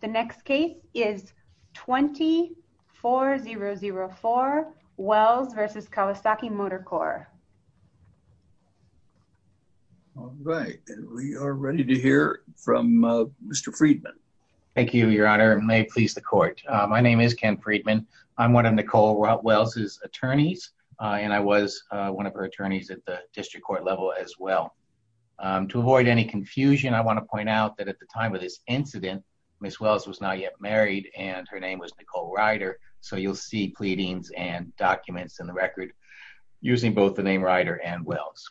The next case is 24004 Wells versus Kawasaki Motor Corp. All right, we are ready to hear from Mr. Friedman. Thank you, Your Honor may please the court. My name is Ken Friedman. I'm one of Nicole Wells's attorneys, and I was one of her attorneys at the district court level as well. To avoid any confusion, I was not yet married, and her name was Nicole Ryder. So you'll see pleadings and documents in the record using both the name Ryder and Wells.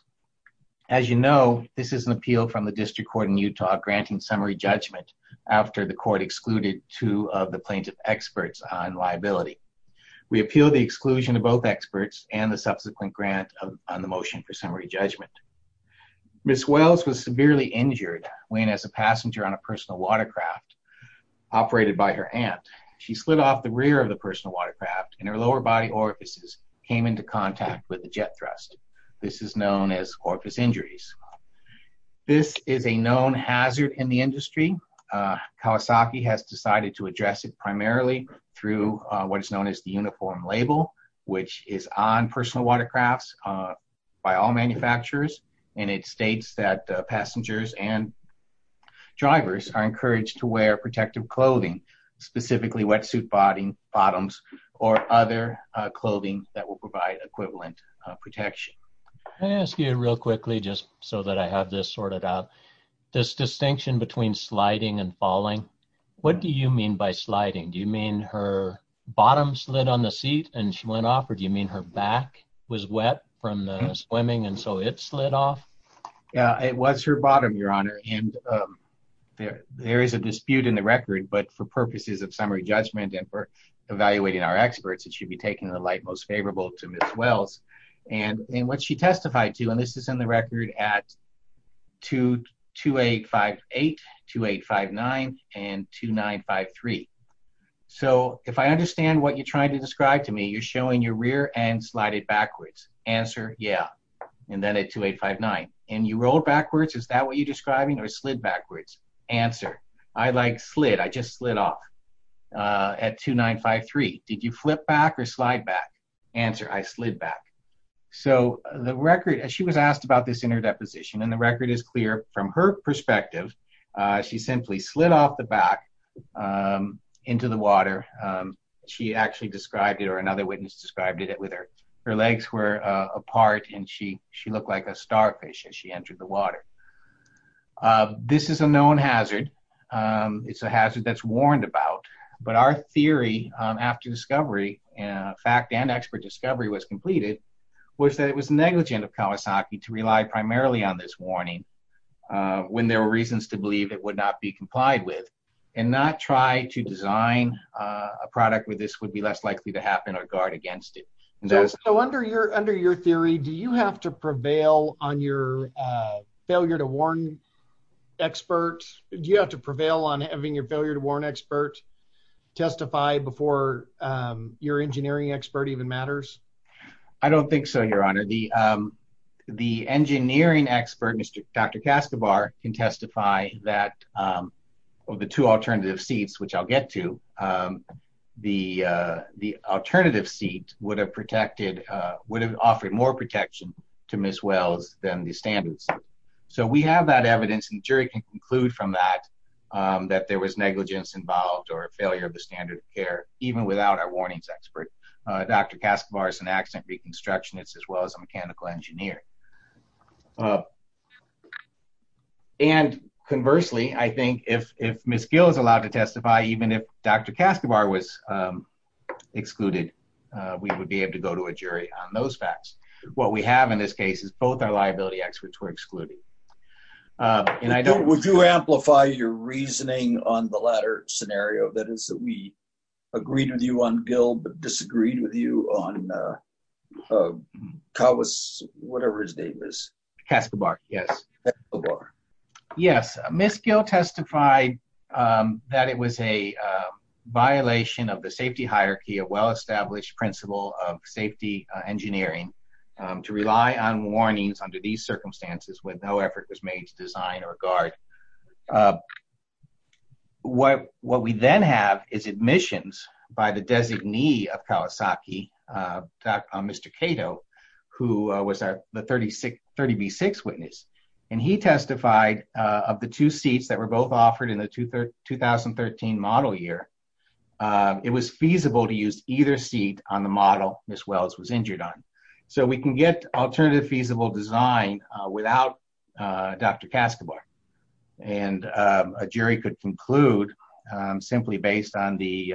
As you know, this is an appeal from the district court in Utah granting summary judgment after the court excluded two of the plaintiff experts on liability. We appeal the exclusion of both experts and the subsequent grant on the motion for summary judgment. Ms. Wells was severely injured when as a passenger on a personal watercraft operated by her aunt, she slid off the rear of the personal watercraft and her lower body orifices came into contact with the jet thrust. This is known as orifice injuries. This is a known hazard in the industry. Kawasaki has decided to address it primarily through what is known as the uniform label, which is on personal watercrafts by all manufacturers. And it states that passengers and drivers are encouraged to wear protective clothing, specifically wetsuit bottoms or other clothing that will provide equivalent protection. I ask you real quickly just so that I have this sorted out. This distinction between sliding and falling. What do you mean by sliding? Do you mean her bottom slid on the seat and she went off? Or do you mean her back was wet from the swimming and so it slid off? Yeah, it was her bottom, Your Honor. And there is a dispute in the record. But for purposes of summary judgment and for evaluating our experts, it should be taken the light most favorable to Ms. Wells. And what she testified to and this is in the record at 2858, 2859 and 2953. So if I understand what you're trying to describe to me, you're showing your rear end slided backwards. Answer? Yeah. And then at 2859. And you rolled backwards. Is that what you're describing or slid backwards? Answer? I like slid. I just slid off. At 2953. Did you flip back or slide back? Answer? I slid back. So the record as she was asked about this in her deposition and the record is clear from her perspective. She simply slid off the back into the water. She actually described it or another witness described it with her. Her legs were apart and she she looked like a starfish as she entered the water. This is a known hazard. It's a hazard that's warned about. But our theory after discovery and fact and expert discovery was completed, was that it was negligent of Kawasaki to rely primarily on this warning when there were reasons to believe it would not be complied with and not try to design a product where this would be less likely to happen or guard against it. So under your under your theory, do you have to prevail on your failure to warn experts? Do you have to prevail on having your failure to warn expert testify before your engineering expert even matters? I don't think so. Your Honor, the the engineering expert, Mr. Dr. Kastabar can testify that the two alternative seats which I'll get to the the alternative seat would have protected would have offered more protection to Ms. Wells than the standards. So we have that evidence and jury can conclude from that, that there was negligence involved or failure of the standard of care even without our warnings expert, Dr. Kastabar is an accident reconstructionist as well as a mechanical engineer. And conversely, I think if if Ms. Gill is allowed to testify, even if Dr. Kastabar was excluded, we would be able to go to a jury on those facts. What we have in this case is both our liability experts were excluded. And I don't want to amplify your reasoning on the latter scenario that is that we agreed with you on bill but disagreed with you on Kawasaki, whatever his name is. Kastabar. Yes. Ms. Gill testified that it was a violation of the safety hierarchy, a well established principle of safety engineering to rely on warnings under these circumstances with no effort was made to design or guard. What what we then have is admissions by the designee of Kawasaki, Mr. Cato, who was at the 36 30 B6 witness, and he testified of the two seats that were both offered in the two third 2013 model year. It was feasible to use either seat on the model as well as was injured on. So we can get alternative feasible design without Dr. Kastabar. And a jury could conclude, simply based on the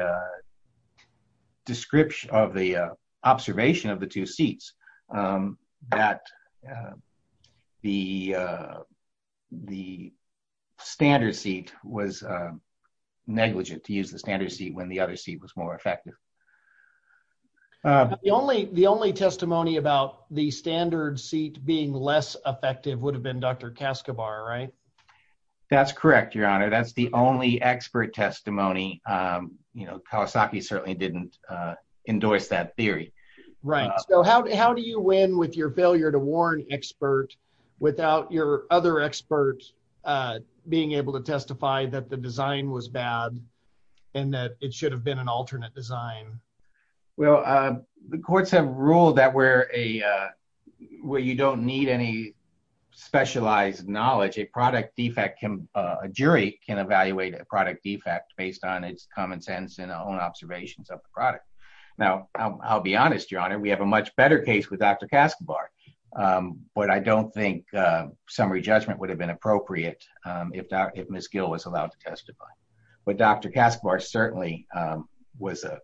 description of the observation of the two seats, that the the standard seat was negligent to use the standard seat when the other seat was more effective. The only the only testimony about the standard seat being less effective would have been Dr. Kastabar, right? That's correct. Your Honor, that's the only expert testimony. You know, Kawasaki certainly didn't endorse that theory. Right. So how do you win with your failure to warn expert without your other experts being able to testify that the design was bad, and that it should have been an alternate design? Well, the courts have ruled that where a where you don't need any specialized knowledge, a product defect can a jury can evaluate a product defect based on its common sense and own observations of the product. Now, I'll be honest, Your Honor, we have a much better case with Dr. Kastabar. But I don't think summary judgment would have been appropriate if if Miss Gill was allowed to testify. But Dr. Kastabar certainly was a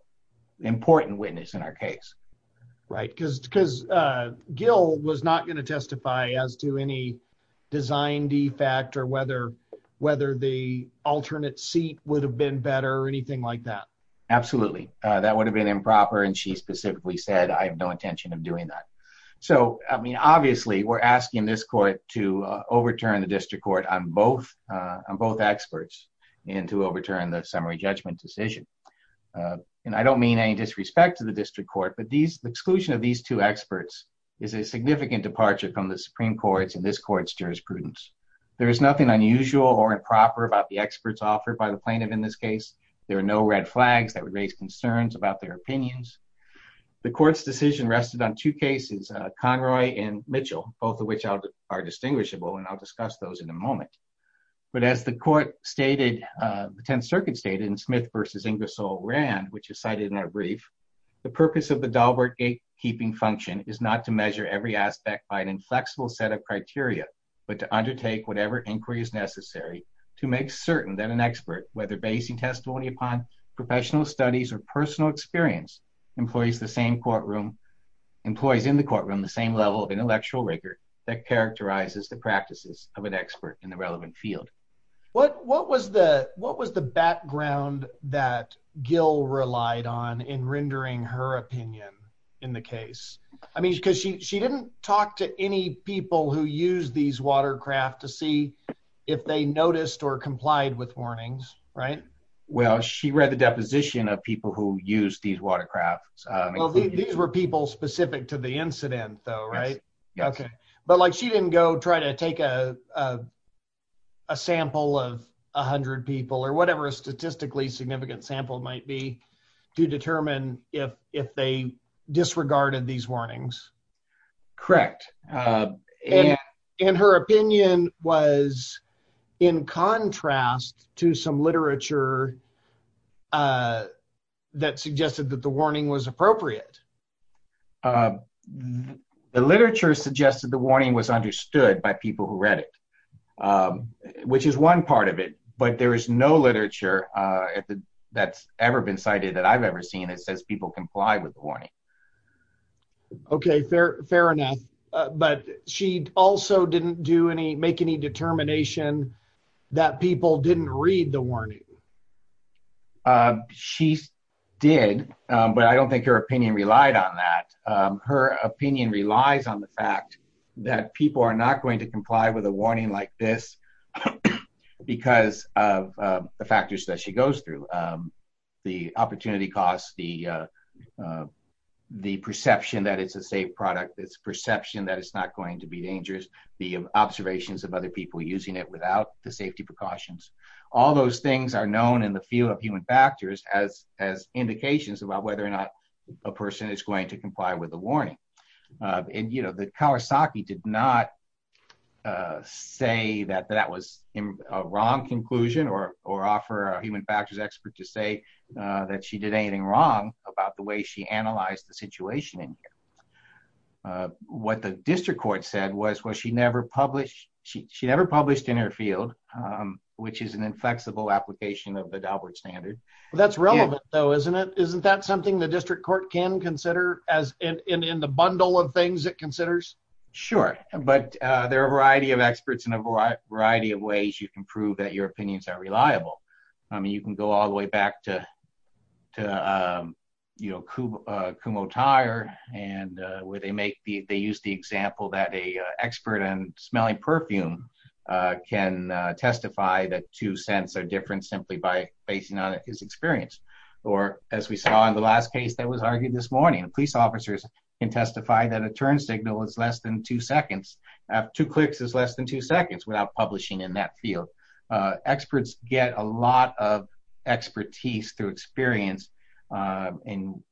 important witness in our case. Right, because because Gill was not going to testify as to any design defect or whether whether the alternate seat would have been better or anything like that. Absolutely, that would have been improper. And she specifically said, I have no intention of doing that. So I mean, obviously, we're asking this court to overturn the district court on both on both experts into overturn the summary judgment decision. And I don't mean any disrespect to the district court. But these exclusion of these two experts is a significant departure from the Supreme Court's and this court's jurisprudence. There is nothing unusual or improper about the experts offered by the plaintiff. In this case, there are no red flags that would raise concerns about their opinions. The court's decision rested on two cases, Conroy and Mitchell, both of which are distinguishable, and I'll discuss those in a moment. But as the court stated, the 10th Circuit stated in Smith versus Ingersoll Rand, which is cited in that brief, the purpose of the by an inflexible set of criteria, but to undertake whatever inquiry is necessary to make certain that an expert whether basing testimony upon professional studies or personal experience, employs the same courtroom, employs in the courtroom, the same level of intellectual rigor that characterizes the practices of an expert in the relevant field. What what was the what was the background that Gil relied on in talk to any people who use these watercraft to see if they noticed or complied with warnings, right? Well, she read the deposition of people who use these watercrafts. These were people specific to the incident, though, right? Yeah. Okay. But like she didn't go try to take a sample of 100 people or whatever a statistically significant sample might be to determine if if they disregarded these warnings. Correct. And her opinion was, in contrast to some literature that suggested that the warning was appropriate. The literature suggested the warning was understood by people who read it, which is one part of it. But there is no literature that's ever been cited that I've ever seen. It says people comply with the warning. Okay, fair, fair enough. But she also didn't do any make any determination that people didn't read the warning. She did. But I don't think her opinion relied on that. Her opinion relies on the fact that people are not going to comply with a warning like this. Because of the factors that she said product, this perception that it's not going to be dangerous, the observations of other people using it without the safety precautions, all those things are known in the field of human factors as as indications about whether or not a person is going to comply with the warning. And you know, the Kawasaki did not say that that was a wrong conclusion or or offer a human factors expert to say that she did anything wrong about the way she analyzed the situation in what the district court said was was she never published she never published in her field, which is an inflexible application of the doublet standard. That's relevant, though, isn't it? Isn't that something the district court can consider as in the bundle of things that considers? Sure. But there are a variety of experts in a variety of ways you can prove that your opinions are reliable. I mean, you can go all the way back to to, you know, Kumo tire, and where they make the they use the example that a expert and smelling perfume can testify that two cents are different simply by basing on his experience. Or as we saw in the last case that was argued this morning, police officers can testify that a turn signal is less than two seconds. Two clicks is less than two seconds without publishing in that field. Experts get a lot of expertise through experience. And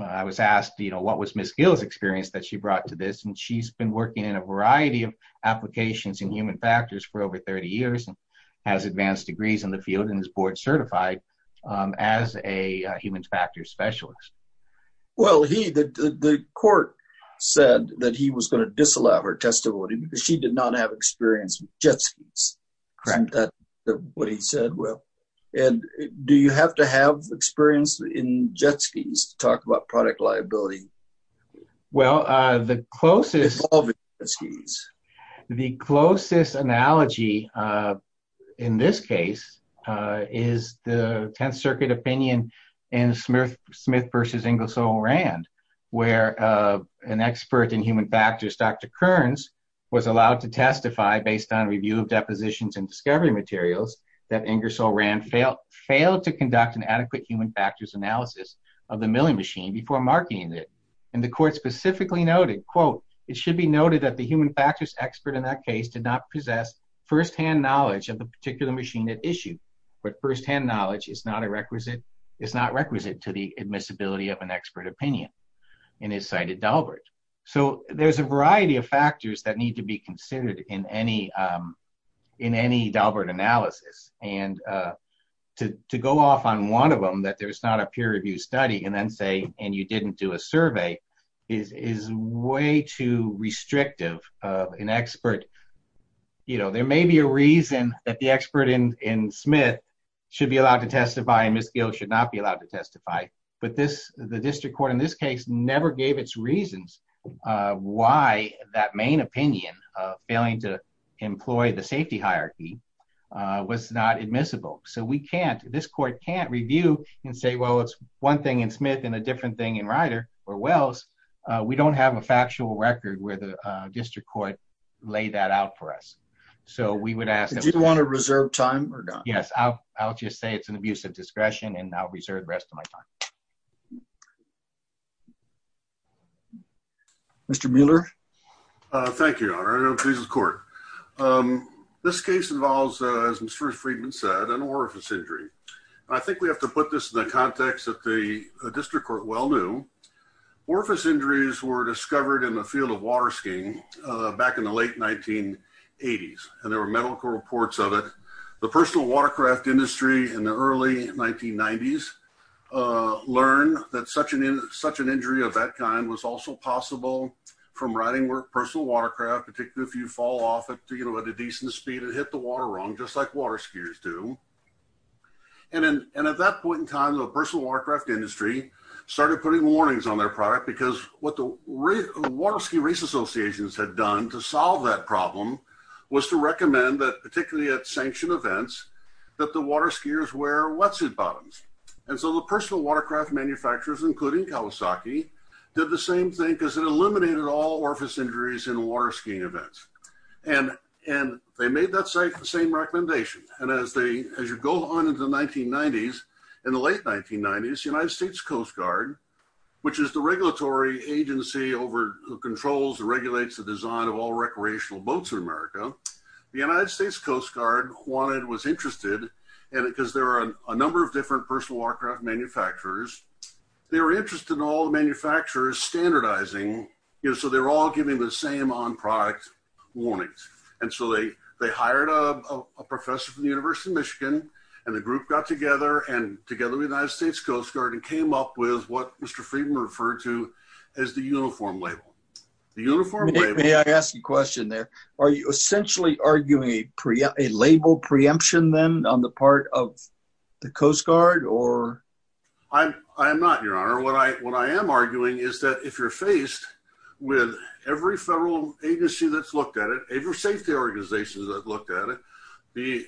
I was asked, you know, what was Miss Gill's experience that she brought to this and she's been working in a variety of applications in human factors for over 30 years and has advanced degrees in the field and is board certified as a human factors specialist. Well, he the court said that he was going to disallow her testimony because she did not have experience with jet skis. Correct. That's what he said. Well, and do you have to have experience in jet skis to talk about product liability? Well, the closest is the closest analogy. In this case, is the 10th Circuit opinion in Smith, Smith versus Inglis O'Rand, where an expert in human factors, Dr. Kearns, was allowed to testify based on review of depositions and discovery materials that Inglis O'Rand failed to conduct an adequate human factors analysis of the milling machine before marketing it. And the court specifically noted, quote, it should be noted that the human factors expert in that case did not possess firsthand knowledge of the particular machine at issue. But firsthand knowledge is not a requisite. It's not an expert opinion, and is cited Dalbert. So there's a variety of factors that need to be considered in any, in any Dalbert analysis. And to go off on one of them that there's not a peer review study and then say, and you didn't do a survey is way too restrictive of an expert. You know, there may be a reason that the expert in Smith should be allowed to testify and Miss Gill should not be allowed to testify. But this the court in this case never gave its reasons why that main opinion of failing to employ the safety hierarchy was not admissible. So we can't this court can't review and say, well, it's one thing in Smith and a different thing in Ryder or Wells, we don't have a factual record where the district court lay that out for us. So we would ask that you want to reserve time or not? Yes, I'll, I'll just say it's an abuse of time. Mr. Mueller. Thank you. Court. This case involves, as Mr. Friedman said, an orifice injury. I think we have to put this in the context that the district court well new orifice injuries were discovered in the field of water skiing back in the late 1980s. And there were medical reports of it. The personal watercraft industry in the early 1990s, learn that such an injury of that kind was also possible from riding personal watercraft, particularly if you fall off at a decent speed and hit the water wrong, just like water skiers do. And at that point in time, the personal watercraft industry started putting warnings on their product, because what the water ski race associations had done to solve that problem was to recommend that particularly at sanctioned events, that the water skiers wear wetsuit bottoms. And so the personal watercraft manufacturers, including Kawasaki, did the same thing because it eliminated all orifice injuries in water skiing events. And, and they made that same same recommendation. And as they as you go on into the 1990s, in the late 1990s, United States Coast Guard, which is the regulatory agency over controls regulates the design of all wanted was interested. And because there are a number of different personal warcraft manufacturers, they were interested in all the manufacturers standardizing, you know, so they're all giving the same on product warnings. And so they, they hired a professor from the University of Michigan, and the group got together and together with United States Coast Guard and came up with what Mr. Friedman referred to as the uniform label. The uniform, may I ask you a question there? Are you essentially arguing a pre a label preemption then on the part of the Coast Guard or? I'm, I'm not your honor. What I what I am arguing is that if you're faced with every federal agency that's looked at it, if you're safety organizations that looked at it, the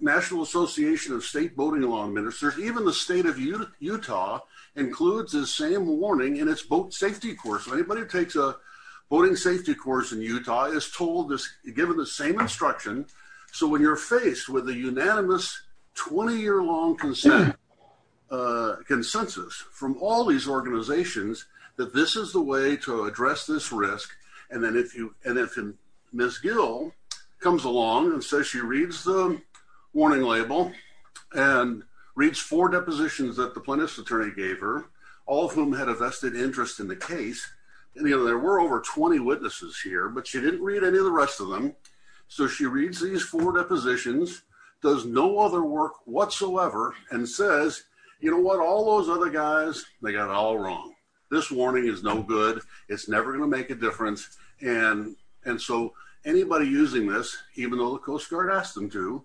National Association of State Boating Law Ministers, even the state of Utah, Utah, includes the same warning in its boat safety course, anybody who takes a boating safety course in Utah is told this given the same instruction. So when you're faced with a unanimous 20 year long consent, consensus from all these organizations, that this is the way to address this risk. And then if you and if Miss Gill comes along and says she reads the warning label, and reads four depositions that the plaintiff's attorney gave her, all of whom had a vested interest in the case. And you know, there were over 20 witnesses here, but she didn't read any of the rest of them. So she reads these four depositions, does no other work whatsoever, and says, you know what, all those other guys, they got all wrong. This warning is no good. It's never gonna make a difference. And, and so anybody using this, even though the Coast Guard asked them to,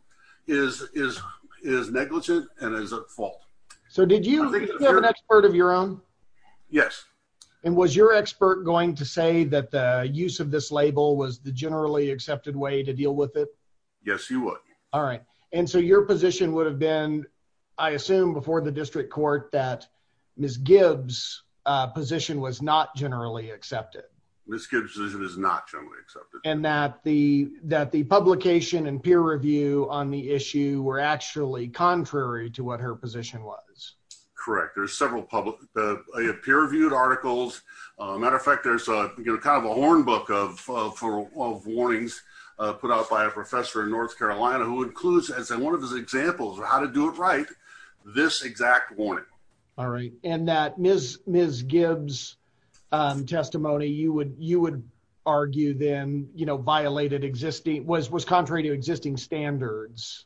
is, is, is negligent and is at fault. So did you have an expert of your own? Yes. And was your expert going to say that the use of this label was the generally accepted way to deal with it? Yes, you would. All right. And so your position would have been, I assume before the district court that Miss Gibbs position was not generally accepted. Miss Gibbs position was not generally accepted. And that the that the publication and peer review on the issue were actually contrary to what her position was. Correct. There's several public peer reviewed articles. Matter of fact, there's a kind of a horn book of four warnings put out by a professor in North Carolina who includes as one of his examples of how to do it right. This exact one. All right. And that Miss Miss Gibbs testimony you would you would argue then you know, violated existing was was contrary to existing standards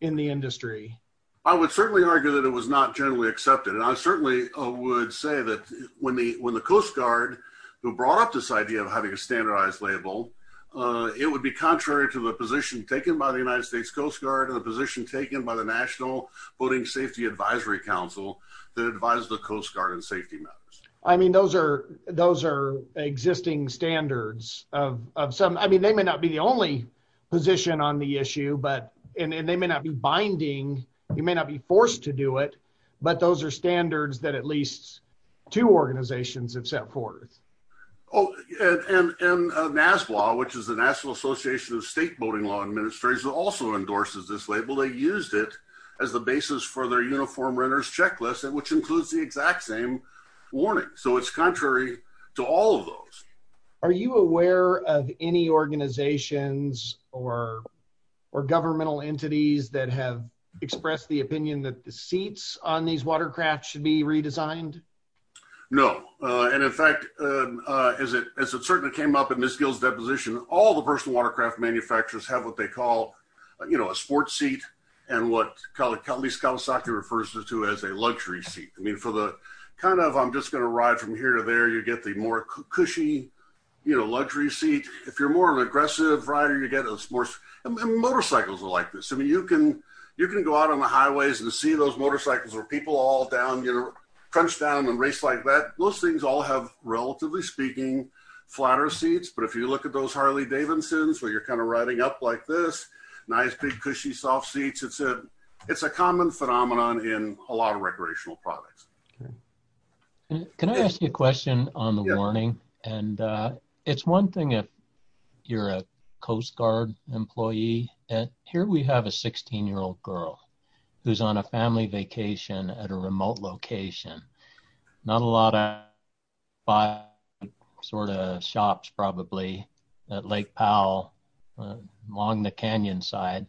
in the industry. I would certainly argue that it was not generally accepted. And I certainly would say that when the when the Coast Guard brought up this idea of having a standardized label, it would be contrary to the position taken by the United States Coast Guard and the position taken by the National Boating Safety Advisory Council that advised the Coast Guard and safety matters. I mean, those are those are existing standards of some I mean, they may not be the only position on the issue, but and they may not be binding, you But those are standards that at least two organizations have set forth. Oh, and NASBA, which is the National Association of State Boating Law Administrators also endorses this label, they used it as the basis for their uniform runners checklist and which includes the exact same warning. So it's contrary to all Are you aware of any organizations or, or governmental entities that have expressed the opinion that the seats on these watercraft should be redesigned? No. And in fact, as it as it certainly came up in this Gil's deposition, all the personal watercraft manufacturers have what they call, you know, a sport seat. And what color Kelly's Kawasaki refers to as a luxury seat. I mean, for the kind of I'm just going to ride from here to there, you get the more cushy, you know, luxury seat. If you're more of an I mean, you can, you can go out on the highways and see those motorcycles or people all down, you know, crunch down and race like that. Most things all have relatively speaking, flatter seats. But if you look at those Harley Davidson's where you're kind of riding up like this, nice big, cushy, soft seats, it's a, it's a common phenomenon in a lot of recreational products. And can I ask you a question on the warning? And it's one thing you're a Coast Guard employee. And here we have a 16 year old girl who's on a family vacation at a remote location. Not a lot of buy sort of shops probably at Lake Powell, along the canyon side.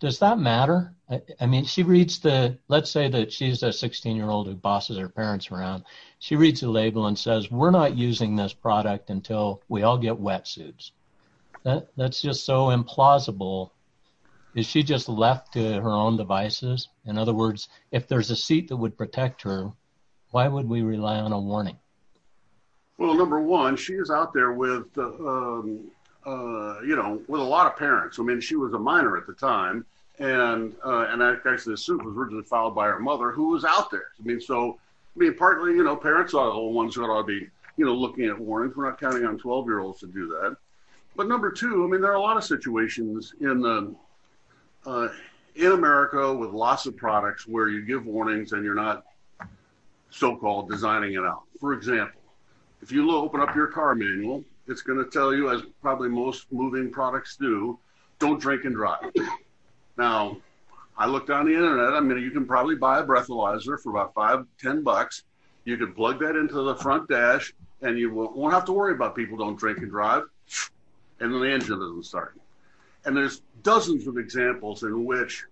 Does that matter? I mean, she reads the let's say that she's a 16 year old who bosses her parents around. She reads a label and says we're not using this product until we all get wetsuits. That's just so implausible. Is she just left to her own devices? In other words, if there's a seat that would protect her, why would we rely on a warning? Well, number one, she is out there with, you know, with a lot of parents. I mean, she was a minor at the time. And, and I actually assume was originally filed by her mother who was out there. I mean, so, I mean, partly, you know, parents are the ones that are be, you know, looking at warrants, we're not going to do that. But number two, I mean, there are a lot of situations in America with lots of products where you give warnings and you're not so-called designing it out. For example, if you open up your car manual, it's going to tell you as probably most moving products do, don't drink and drive. Now, I looked on the internet, I mean, you can probably buy a breathalyzer for about five, 10 bucks. You can plug that into the front dash, and you won't have to worry about people don't drink and drive. And then the engine doesn't start. And there's dozens of examples in which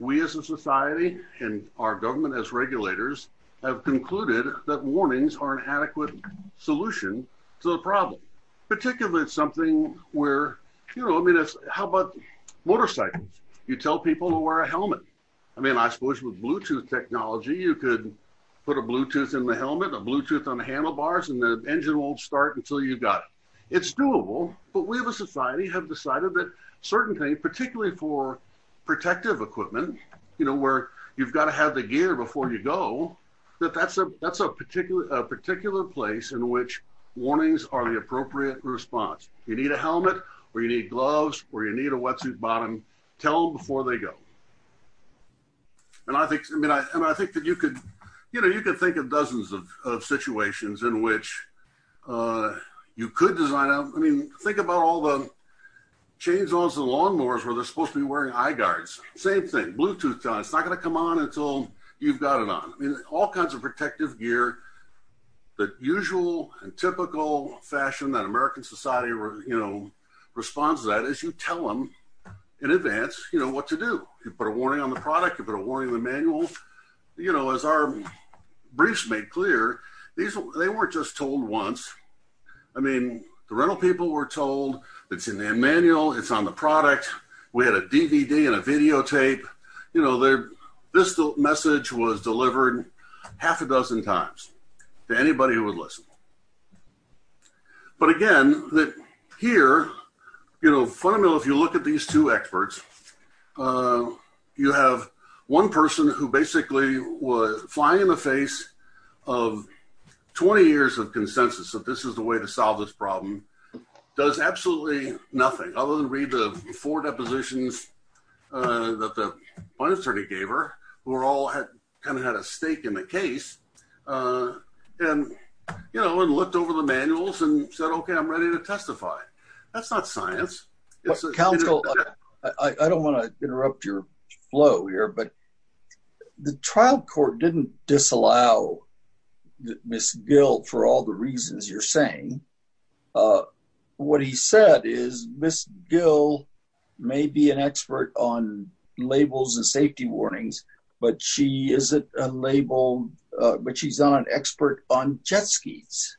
we as a society and our government as regulators have concluded that warnings are an adequate solution to the problem. Particularly, it's something where, you know, I mean, how about motorcycles? You tell people to wear a helmet. I mean, I suppose with Bluetooth technology, you could put a Bluetooth in the helmet, a Bluetooth on the handlebars, and the engine won't start until you've got it. It's doable. But we have a society have decided that certain things particularly for protective equipment, you know, where you've got to have the gear before you go, that that's a particular place in which warnings are the appropriate response. You need a helmet, or you need gloves, or you need a wetsuit bottom, tell before they go. And I think that you could, you know, you could think of dozens of situations in which you could design out. I mean, think about all the chainsaws and lawnmowers where they're supposed to be wearing eye guards, same thing, Bluetooth, it's not going to come on until you've got it on. I mean, all kinds of protective gear, the usual and typical fashion that American society, you know, responds to that as you tell them, in advance, you know what to do, you put a warning on the product, you put a warning in the manual. You know, as our briefs made clear, these, they weren't just told once. I mean, the rental people were told, it's in their manual, it's on the product, we had a DVD and a videotape, you know, their, this message was delivered half a dozen times to anybody who would listen. But again, that here, you know, fundamentally, if you look at these two experts, you have one person who basically was flying in the face of 20 years of consensus that this is the way to solve this problem, does absolutely nothing other than read the four depositions that the finance attorney gave her, who are all had kind of had a stake in the case. And, you know, and looked over the manuals and said, Okay, I'm ready to testify. That's not science. I don't want to interrupt your flow here. But the trial court didn't disallow Miss Gill for all the reasons you're saying. What he said is Miss Gill may be an expert on labels and safety warnings, but she isn't a label, but she's not an expert on jet skis.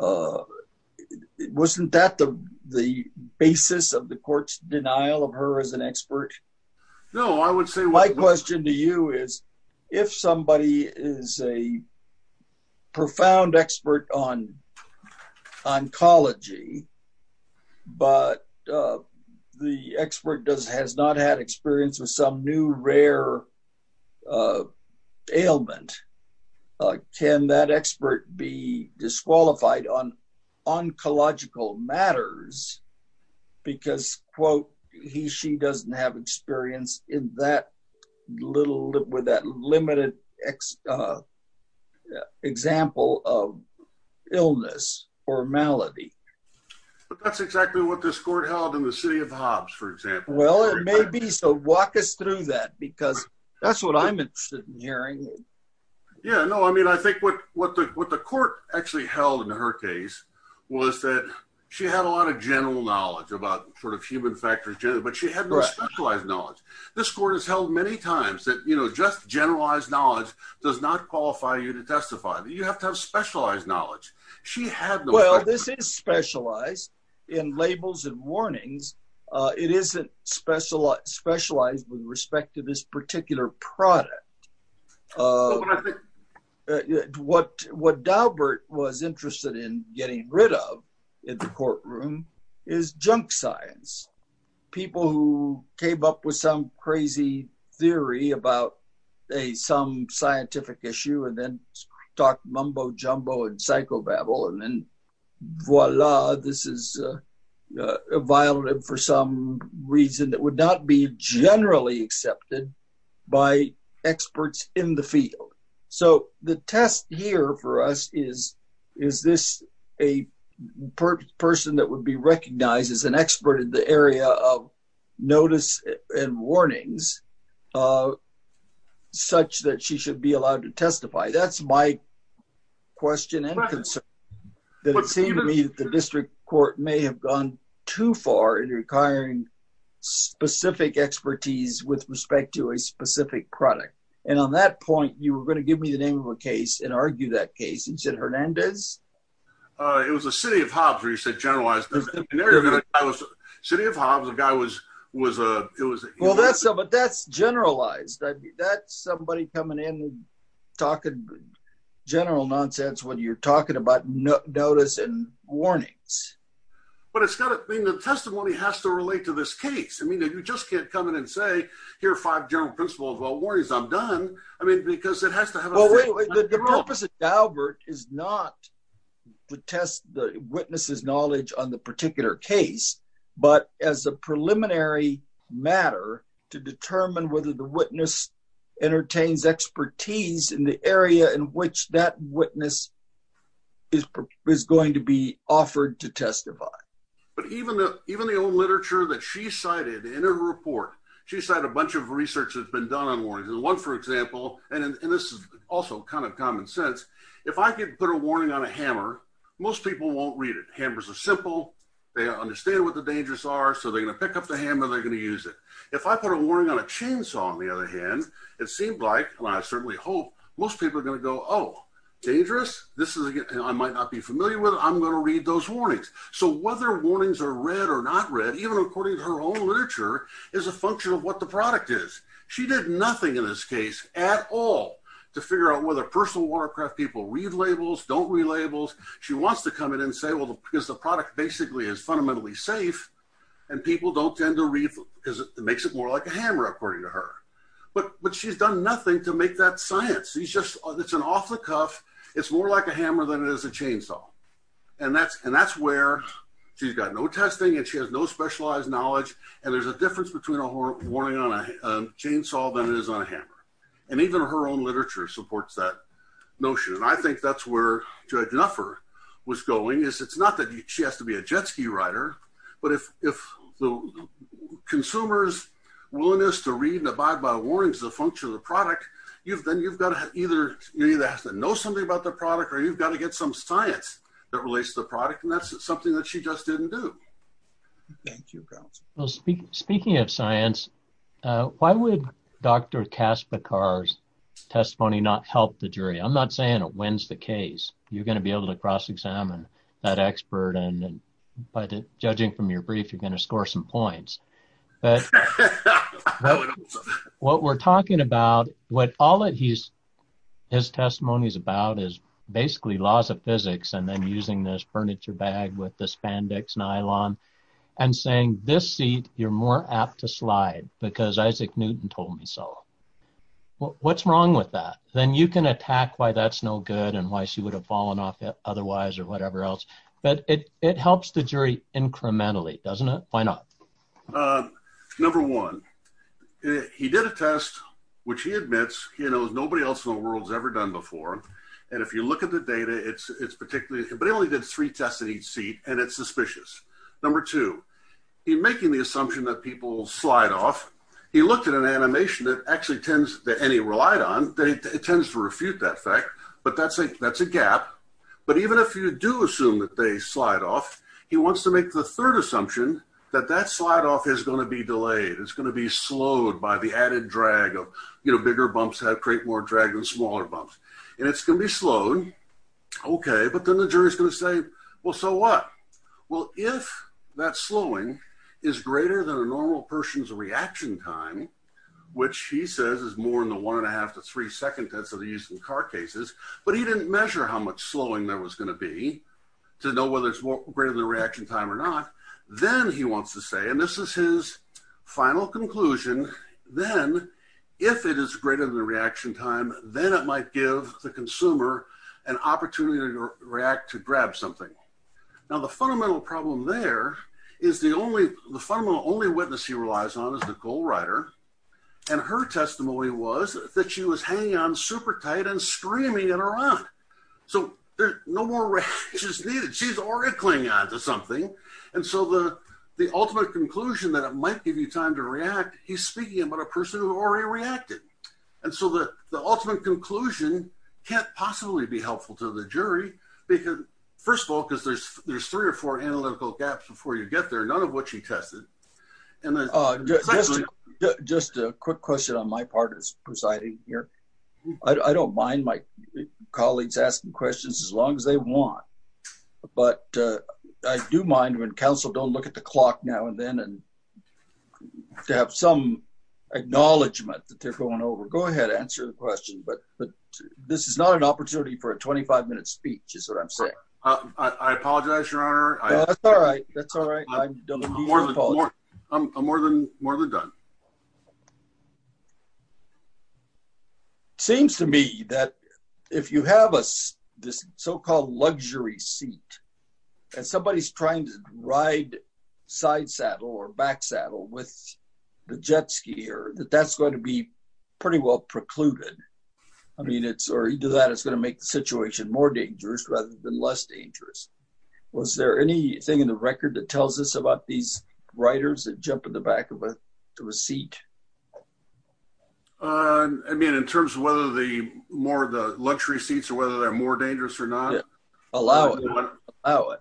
Wasn't that the basis of the court's denial of her as an expert? No, I would say my question to you is, if somebody is a profound expert on oncology, but the expert does has not had experience with some new rare ailment, can that expert be disqualified on oncological matters? Because, quote, he she doesn't have experience in that little with that limited example of illness or malady. But that's exactly what this court held in the city of Hobbs, for example. Well, it may be so walk us through that, because that's what I'm interested in hearing. Yeah, no, I mean, I think what what the what the court actually held in her case, was that she had a lot of general knowledge about sort of human factors, but she had specialized knowledge. This court has held many times that, you know, just generalized knowledge does not qualify you to testify that you have to have specialized knowledge. She had well, this is specialized in labels and warnings. It isn't special specialized with respect to this particular product. What what Daubert was interested in getting rid of in the science, people who came up with some crazy theory about a some scientific issue, and then talk mumbo jumbo and psychobabble. And then voila, this is a violent for some reason that would not be generally accepted by experts in the field. So the test here for us is, is this a person that would be recognized as an expert in the area of notice and warnings, such that she should be allowed to testify? That's my question. But it seemed to me that the district court may have gone too far in requiring specific expertise with respect to a specific product. And on that point, you were going to give me the name of a case and argue that case and said Hernandez. It was a city of Hobbs where you said generalized. City of Hobbs, a guy was was a it was well, that's a but that's generalized. That's somebody coming in, talking general nonsense when you're talking about notice and warnings. But it's got to be the testimony has to relate to this case. I mean, you just can't come in and say, here are five general principles. Well, worries, I'm done. I mean, because it has to have the purpose of Albert is not to test the witness's knowledge on the particular case, but as a preliminary matter to determine whether the witness entertains expertise in the area in which that witness. Is is going to be offered to testify, but even even the old literature that she cited in her report, she said a bunch of research has been done on warnings and one, for example. And this is also kind of common sense. If I could put a warning on a hammer, most people won't read it. Hammers are simple. They understand what the dangers are. So they're going to pick up the hammer. They're going to use it. If I put a warning on a chainsaw, on the other hand, it seemed like and I certainly hope most people are going to go, oh, dangerous. This is I might not be familiar with. I'm going to read those warnings. So whether warnings are read or not read, even according to her own literature, is a function of what the product is. She did nothing in this case at all to figure out whether personal Warcraft people read labels, don't read labels. She wants to come in and say, well, because the product basically is fundamentally safe and people don't tend to read because it makes it more like a hammer, according to her. But but she's done nothing to make that science. He's just it's an off the cuff. It's more like a hammer than it is a chainsaw. And that's and that's where she's got no testing and she has no specialized knowledge. And there's a difference between a warning on a chainsaw than it is on a hammer. And even her own literature supports that notion. And I think that's where Judge Nuffer was going is it's not that she has to be a jet ski rider, but if if the consumer's willingness to read and abide by warnings, the function of the product, you've then you've got to either you either have to know something about the product or you've got to get some science that relates to the product. And that's something that she just didn't do. Thank you, girls. Well, speaking of science, why would Dr. Kaspekar's testimony not help the jury? I'm not saying it wins the case. You're going to be able to cross examine that expert. And by judging from your brief, you're going to score some points. But what we're talking about, what all that he's his testimony is about is basically laws of physics. And then using this furniture bag with the spandex nylon and saying this seat, you're more apt to slide because Isaac Newton told me so. Well, what's wrong with that? Then you can attack why that's no good and why she would have fallen off otherwise or whatever else. But it it helps the jury incrementally, doesn't it? Why not? Number one, he did a test, which he admits, you know, nobody else in the world has ever done before. And if you look at the data, it's it's particularly but only did three tests in each seat. And it's suspicious. Number two, he making the assumption that people slide off. He looked at an animation that actually tends to any relied on. It tends to refute that fact. But that's a that's a gap. But even if you do assume that they slide off, he wants to make the third assumption that that slide off is going to be delayed. It's going to be slowed by the added drag of, you know, bigger bumps have create more drag and smaller bumps. And it's going to be slowed. OK, but then the jury is going to say, well, so what? Well, if that slowing is greater than a normal person's reaction time, which he says is more than the one and a half to three second that's of the use in car cases. But he didn't measure how much slowing there was going to be to know whether it's greater than the reaction time or not. Then he wants to say, and this is his final conclusion. Then if it is greater than the reaction time, then it might give the consumer an opportunity to react, to grab something. Now, the fundamental problem there is the only the fundamental only witness he relies on is Nicole Ryder. And her testimony was that she was hanging on super tight and screaming in Iran. So there's no more. She's needed. She's already clinging on to something. And so the the ultimate conclusion that it might give you time to react. He's speaking about a person who already reacted. And so the the ultimate conclusion can't possibly be helpful to the jury because first of all, because there's there's three or four analytical gaps before you get there, none of which he tested. And just just a quick question on my part is presiding here. I don't mind my colleagues asking questions as long as they want. But I do mind when counsel don't look at the clock now and then and to have some acknowledgement that they're going over. Go ahead. Answer the question. But but this is not an opportunity for a 25 minute speech is what I'm saying. I apologize, your honor. All right. That's all right. I'm more than I'm more than more than done. Seems to me that if you have a this so-called luxury seat and somebody's trying to ride side saddle or back saddle with the jet skier, that that's going to be pretty well precluded. I mean, it's or you do that. It's going to make the situation more dangerous rather than less dangerous. Was there anything in the record that tells us about these writers that jump in the back of a seat? I mean, in terms of whether the more the luxury seats or whether they're more dangerous or not. Allow it, allow it.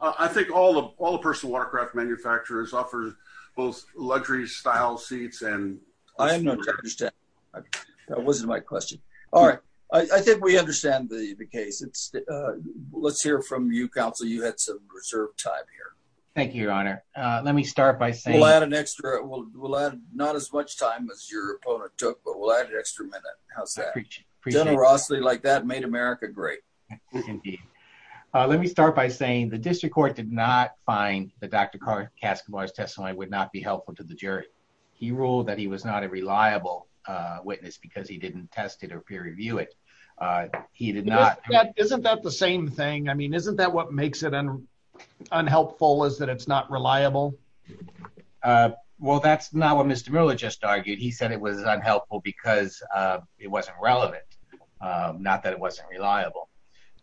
I think all of all the personal watercraft manufacturers offer both luxury style seats and I understand. That wasn't my question. All right. I think we understand the case. It's let's hear from you, counsel. You had some reserved time here. Thank you, your honor. Let me start by saying I had an extra. Well, we'll add not as much time as your opponent took. But we'll add an extra minute. How's that? Generosity like that made America great. Let me start by saying the district court did not find the doctor. Kaskamar's testimony would not be helpful to the jury. He ruled that he was not a reliable witness because he didn't test it or peer review it. He did not. Isn't that the same thing? I mean, isn't that what makes it unhelpful is that it's not reliable? Well, that's not what Mr. Miller just argued. He said it was unhelpful because it wasn't relevant, not that it wasn't reliable.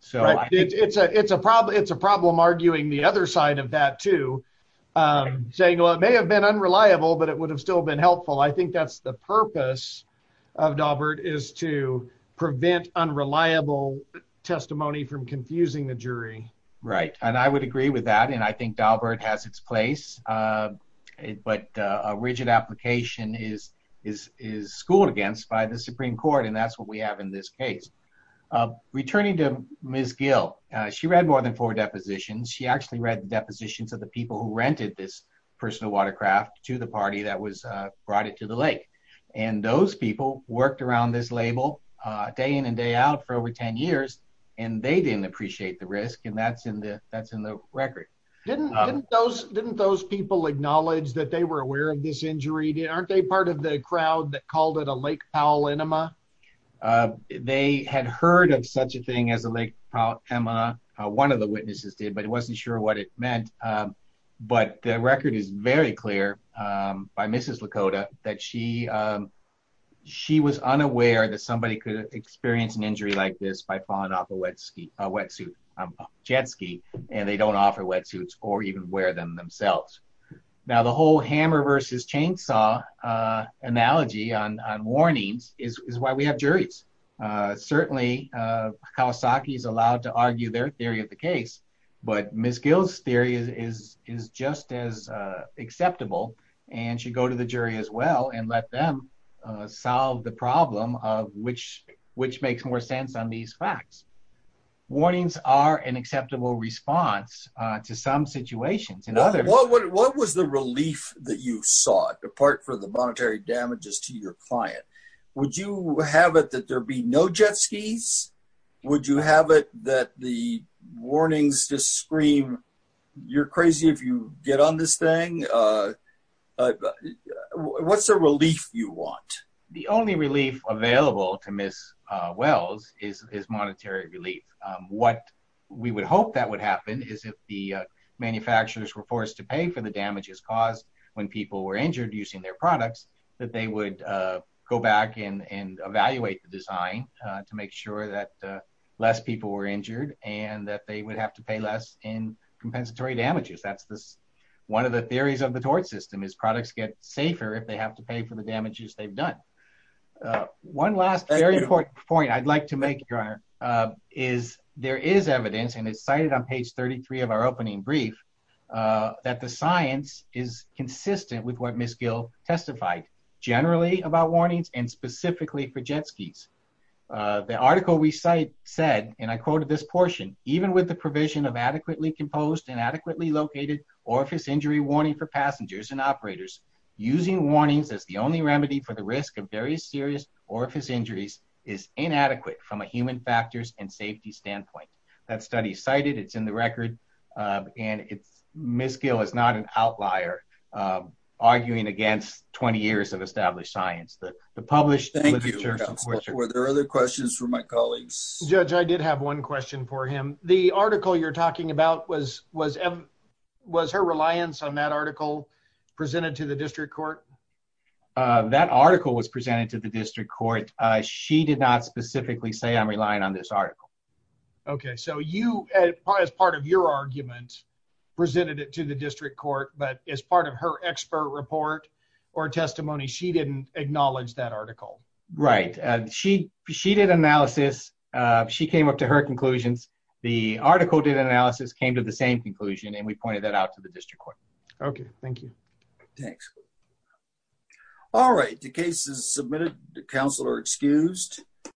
So it's a it's a problem. It's a problem arguing the other side of that, too, saying, well, it may have been unreliable, but it would have still been helpful. I think that's the purpose of Daubert is to prevent unreliable testimony from confusing the jury. Right. And I would agree with that. And I think Daubert has its place. But a rigid application is is is schooled against by the Supreme Court. And that's what we have in this case. Returning to Miss Gill, she read more than four depositions. She actually read the depositions of the people who rented this personal watercraft to the party that was brought it to the lake. And those people worked around this label day in and day out for over 10 years. And they didn't appreciate the risk. And that's in the that's in the record. Didn't those didn't those people acknowledge that they were aware of this injury? Aren't they part of the crowd that called it a Lake Powell enema? They had heard of such a thing as a lake. Emma, one of the witnesses did, but it wasn't sure what it meant. But the record is very clear by Mrs. Lakota that she she was unaware that somebody could experience an injury like this by falling off a wet ski, a wetsuit, a jet ski, and they don't offer wetsuits or even wear them themselves. Now, the whole hammer versus chainsaw analogy on warnings is why we have juries. Certainly, Kawasaki is allowed to argue their theory of the case. But Miss Gill's theory is is just as acceptable. And she go to the jury as well and let them solve the problem of which which makes more sense on these facts. Warnings are an acceptable response to some situations. And what what what was the relief that you saw apart for the monetary damages to your client? Would you have it that there be no jet skis? Would you have it that the warnings just scream you're crazy if you get on this thing? What's the relief you want? The only relief available to Miss Wells is is monetary relief. What we would hope that would happen is if the manufacturers were forced to pay for the damages caused when people were injured using their products, that they would go back and evaluate the design to make sure that less people were injured and that they would have to pay less in compensatory damages. That's this one of the theories of the tort system is products get safer if they have to pay for the damages they've done. One last very important point I'd like to make, your honor, is there is evidence and it's cited on page 33 of our opening brief that the science is consistent with what Miss Gill testified generally about warnings and specifically for jet skis. The article we cite said, and I quoted this portion, even with the provision of adequately composed and adequately located orifice injury warning for passengers and operators, using warnings as the only remedy for the risk of very serious orifice injuries is inadequate from a human factors and safety standpoint. That study cited it's in the record. And it's Miss Gill is not an outlier arguing against 20 years of established science. The published literature. Were there other questions for my colleagues? Judge, I did have one question for him. The article you're talking about was was was her reliance on that article presented to the district court? That article was presented to the district court. She did not specifically say, I'm relying on this article. OK, so you as part of your argument presented it to the district court, but as part of her expert report or testimony, she didn't acknowledge that article. Right. And she she did analysis. She came up to her conclusions. The article did an analysis, came to the same conclusion, and we pointed that out to the district court. OK, thank you. Thanks. All right. The case is submitted to counsel are excused.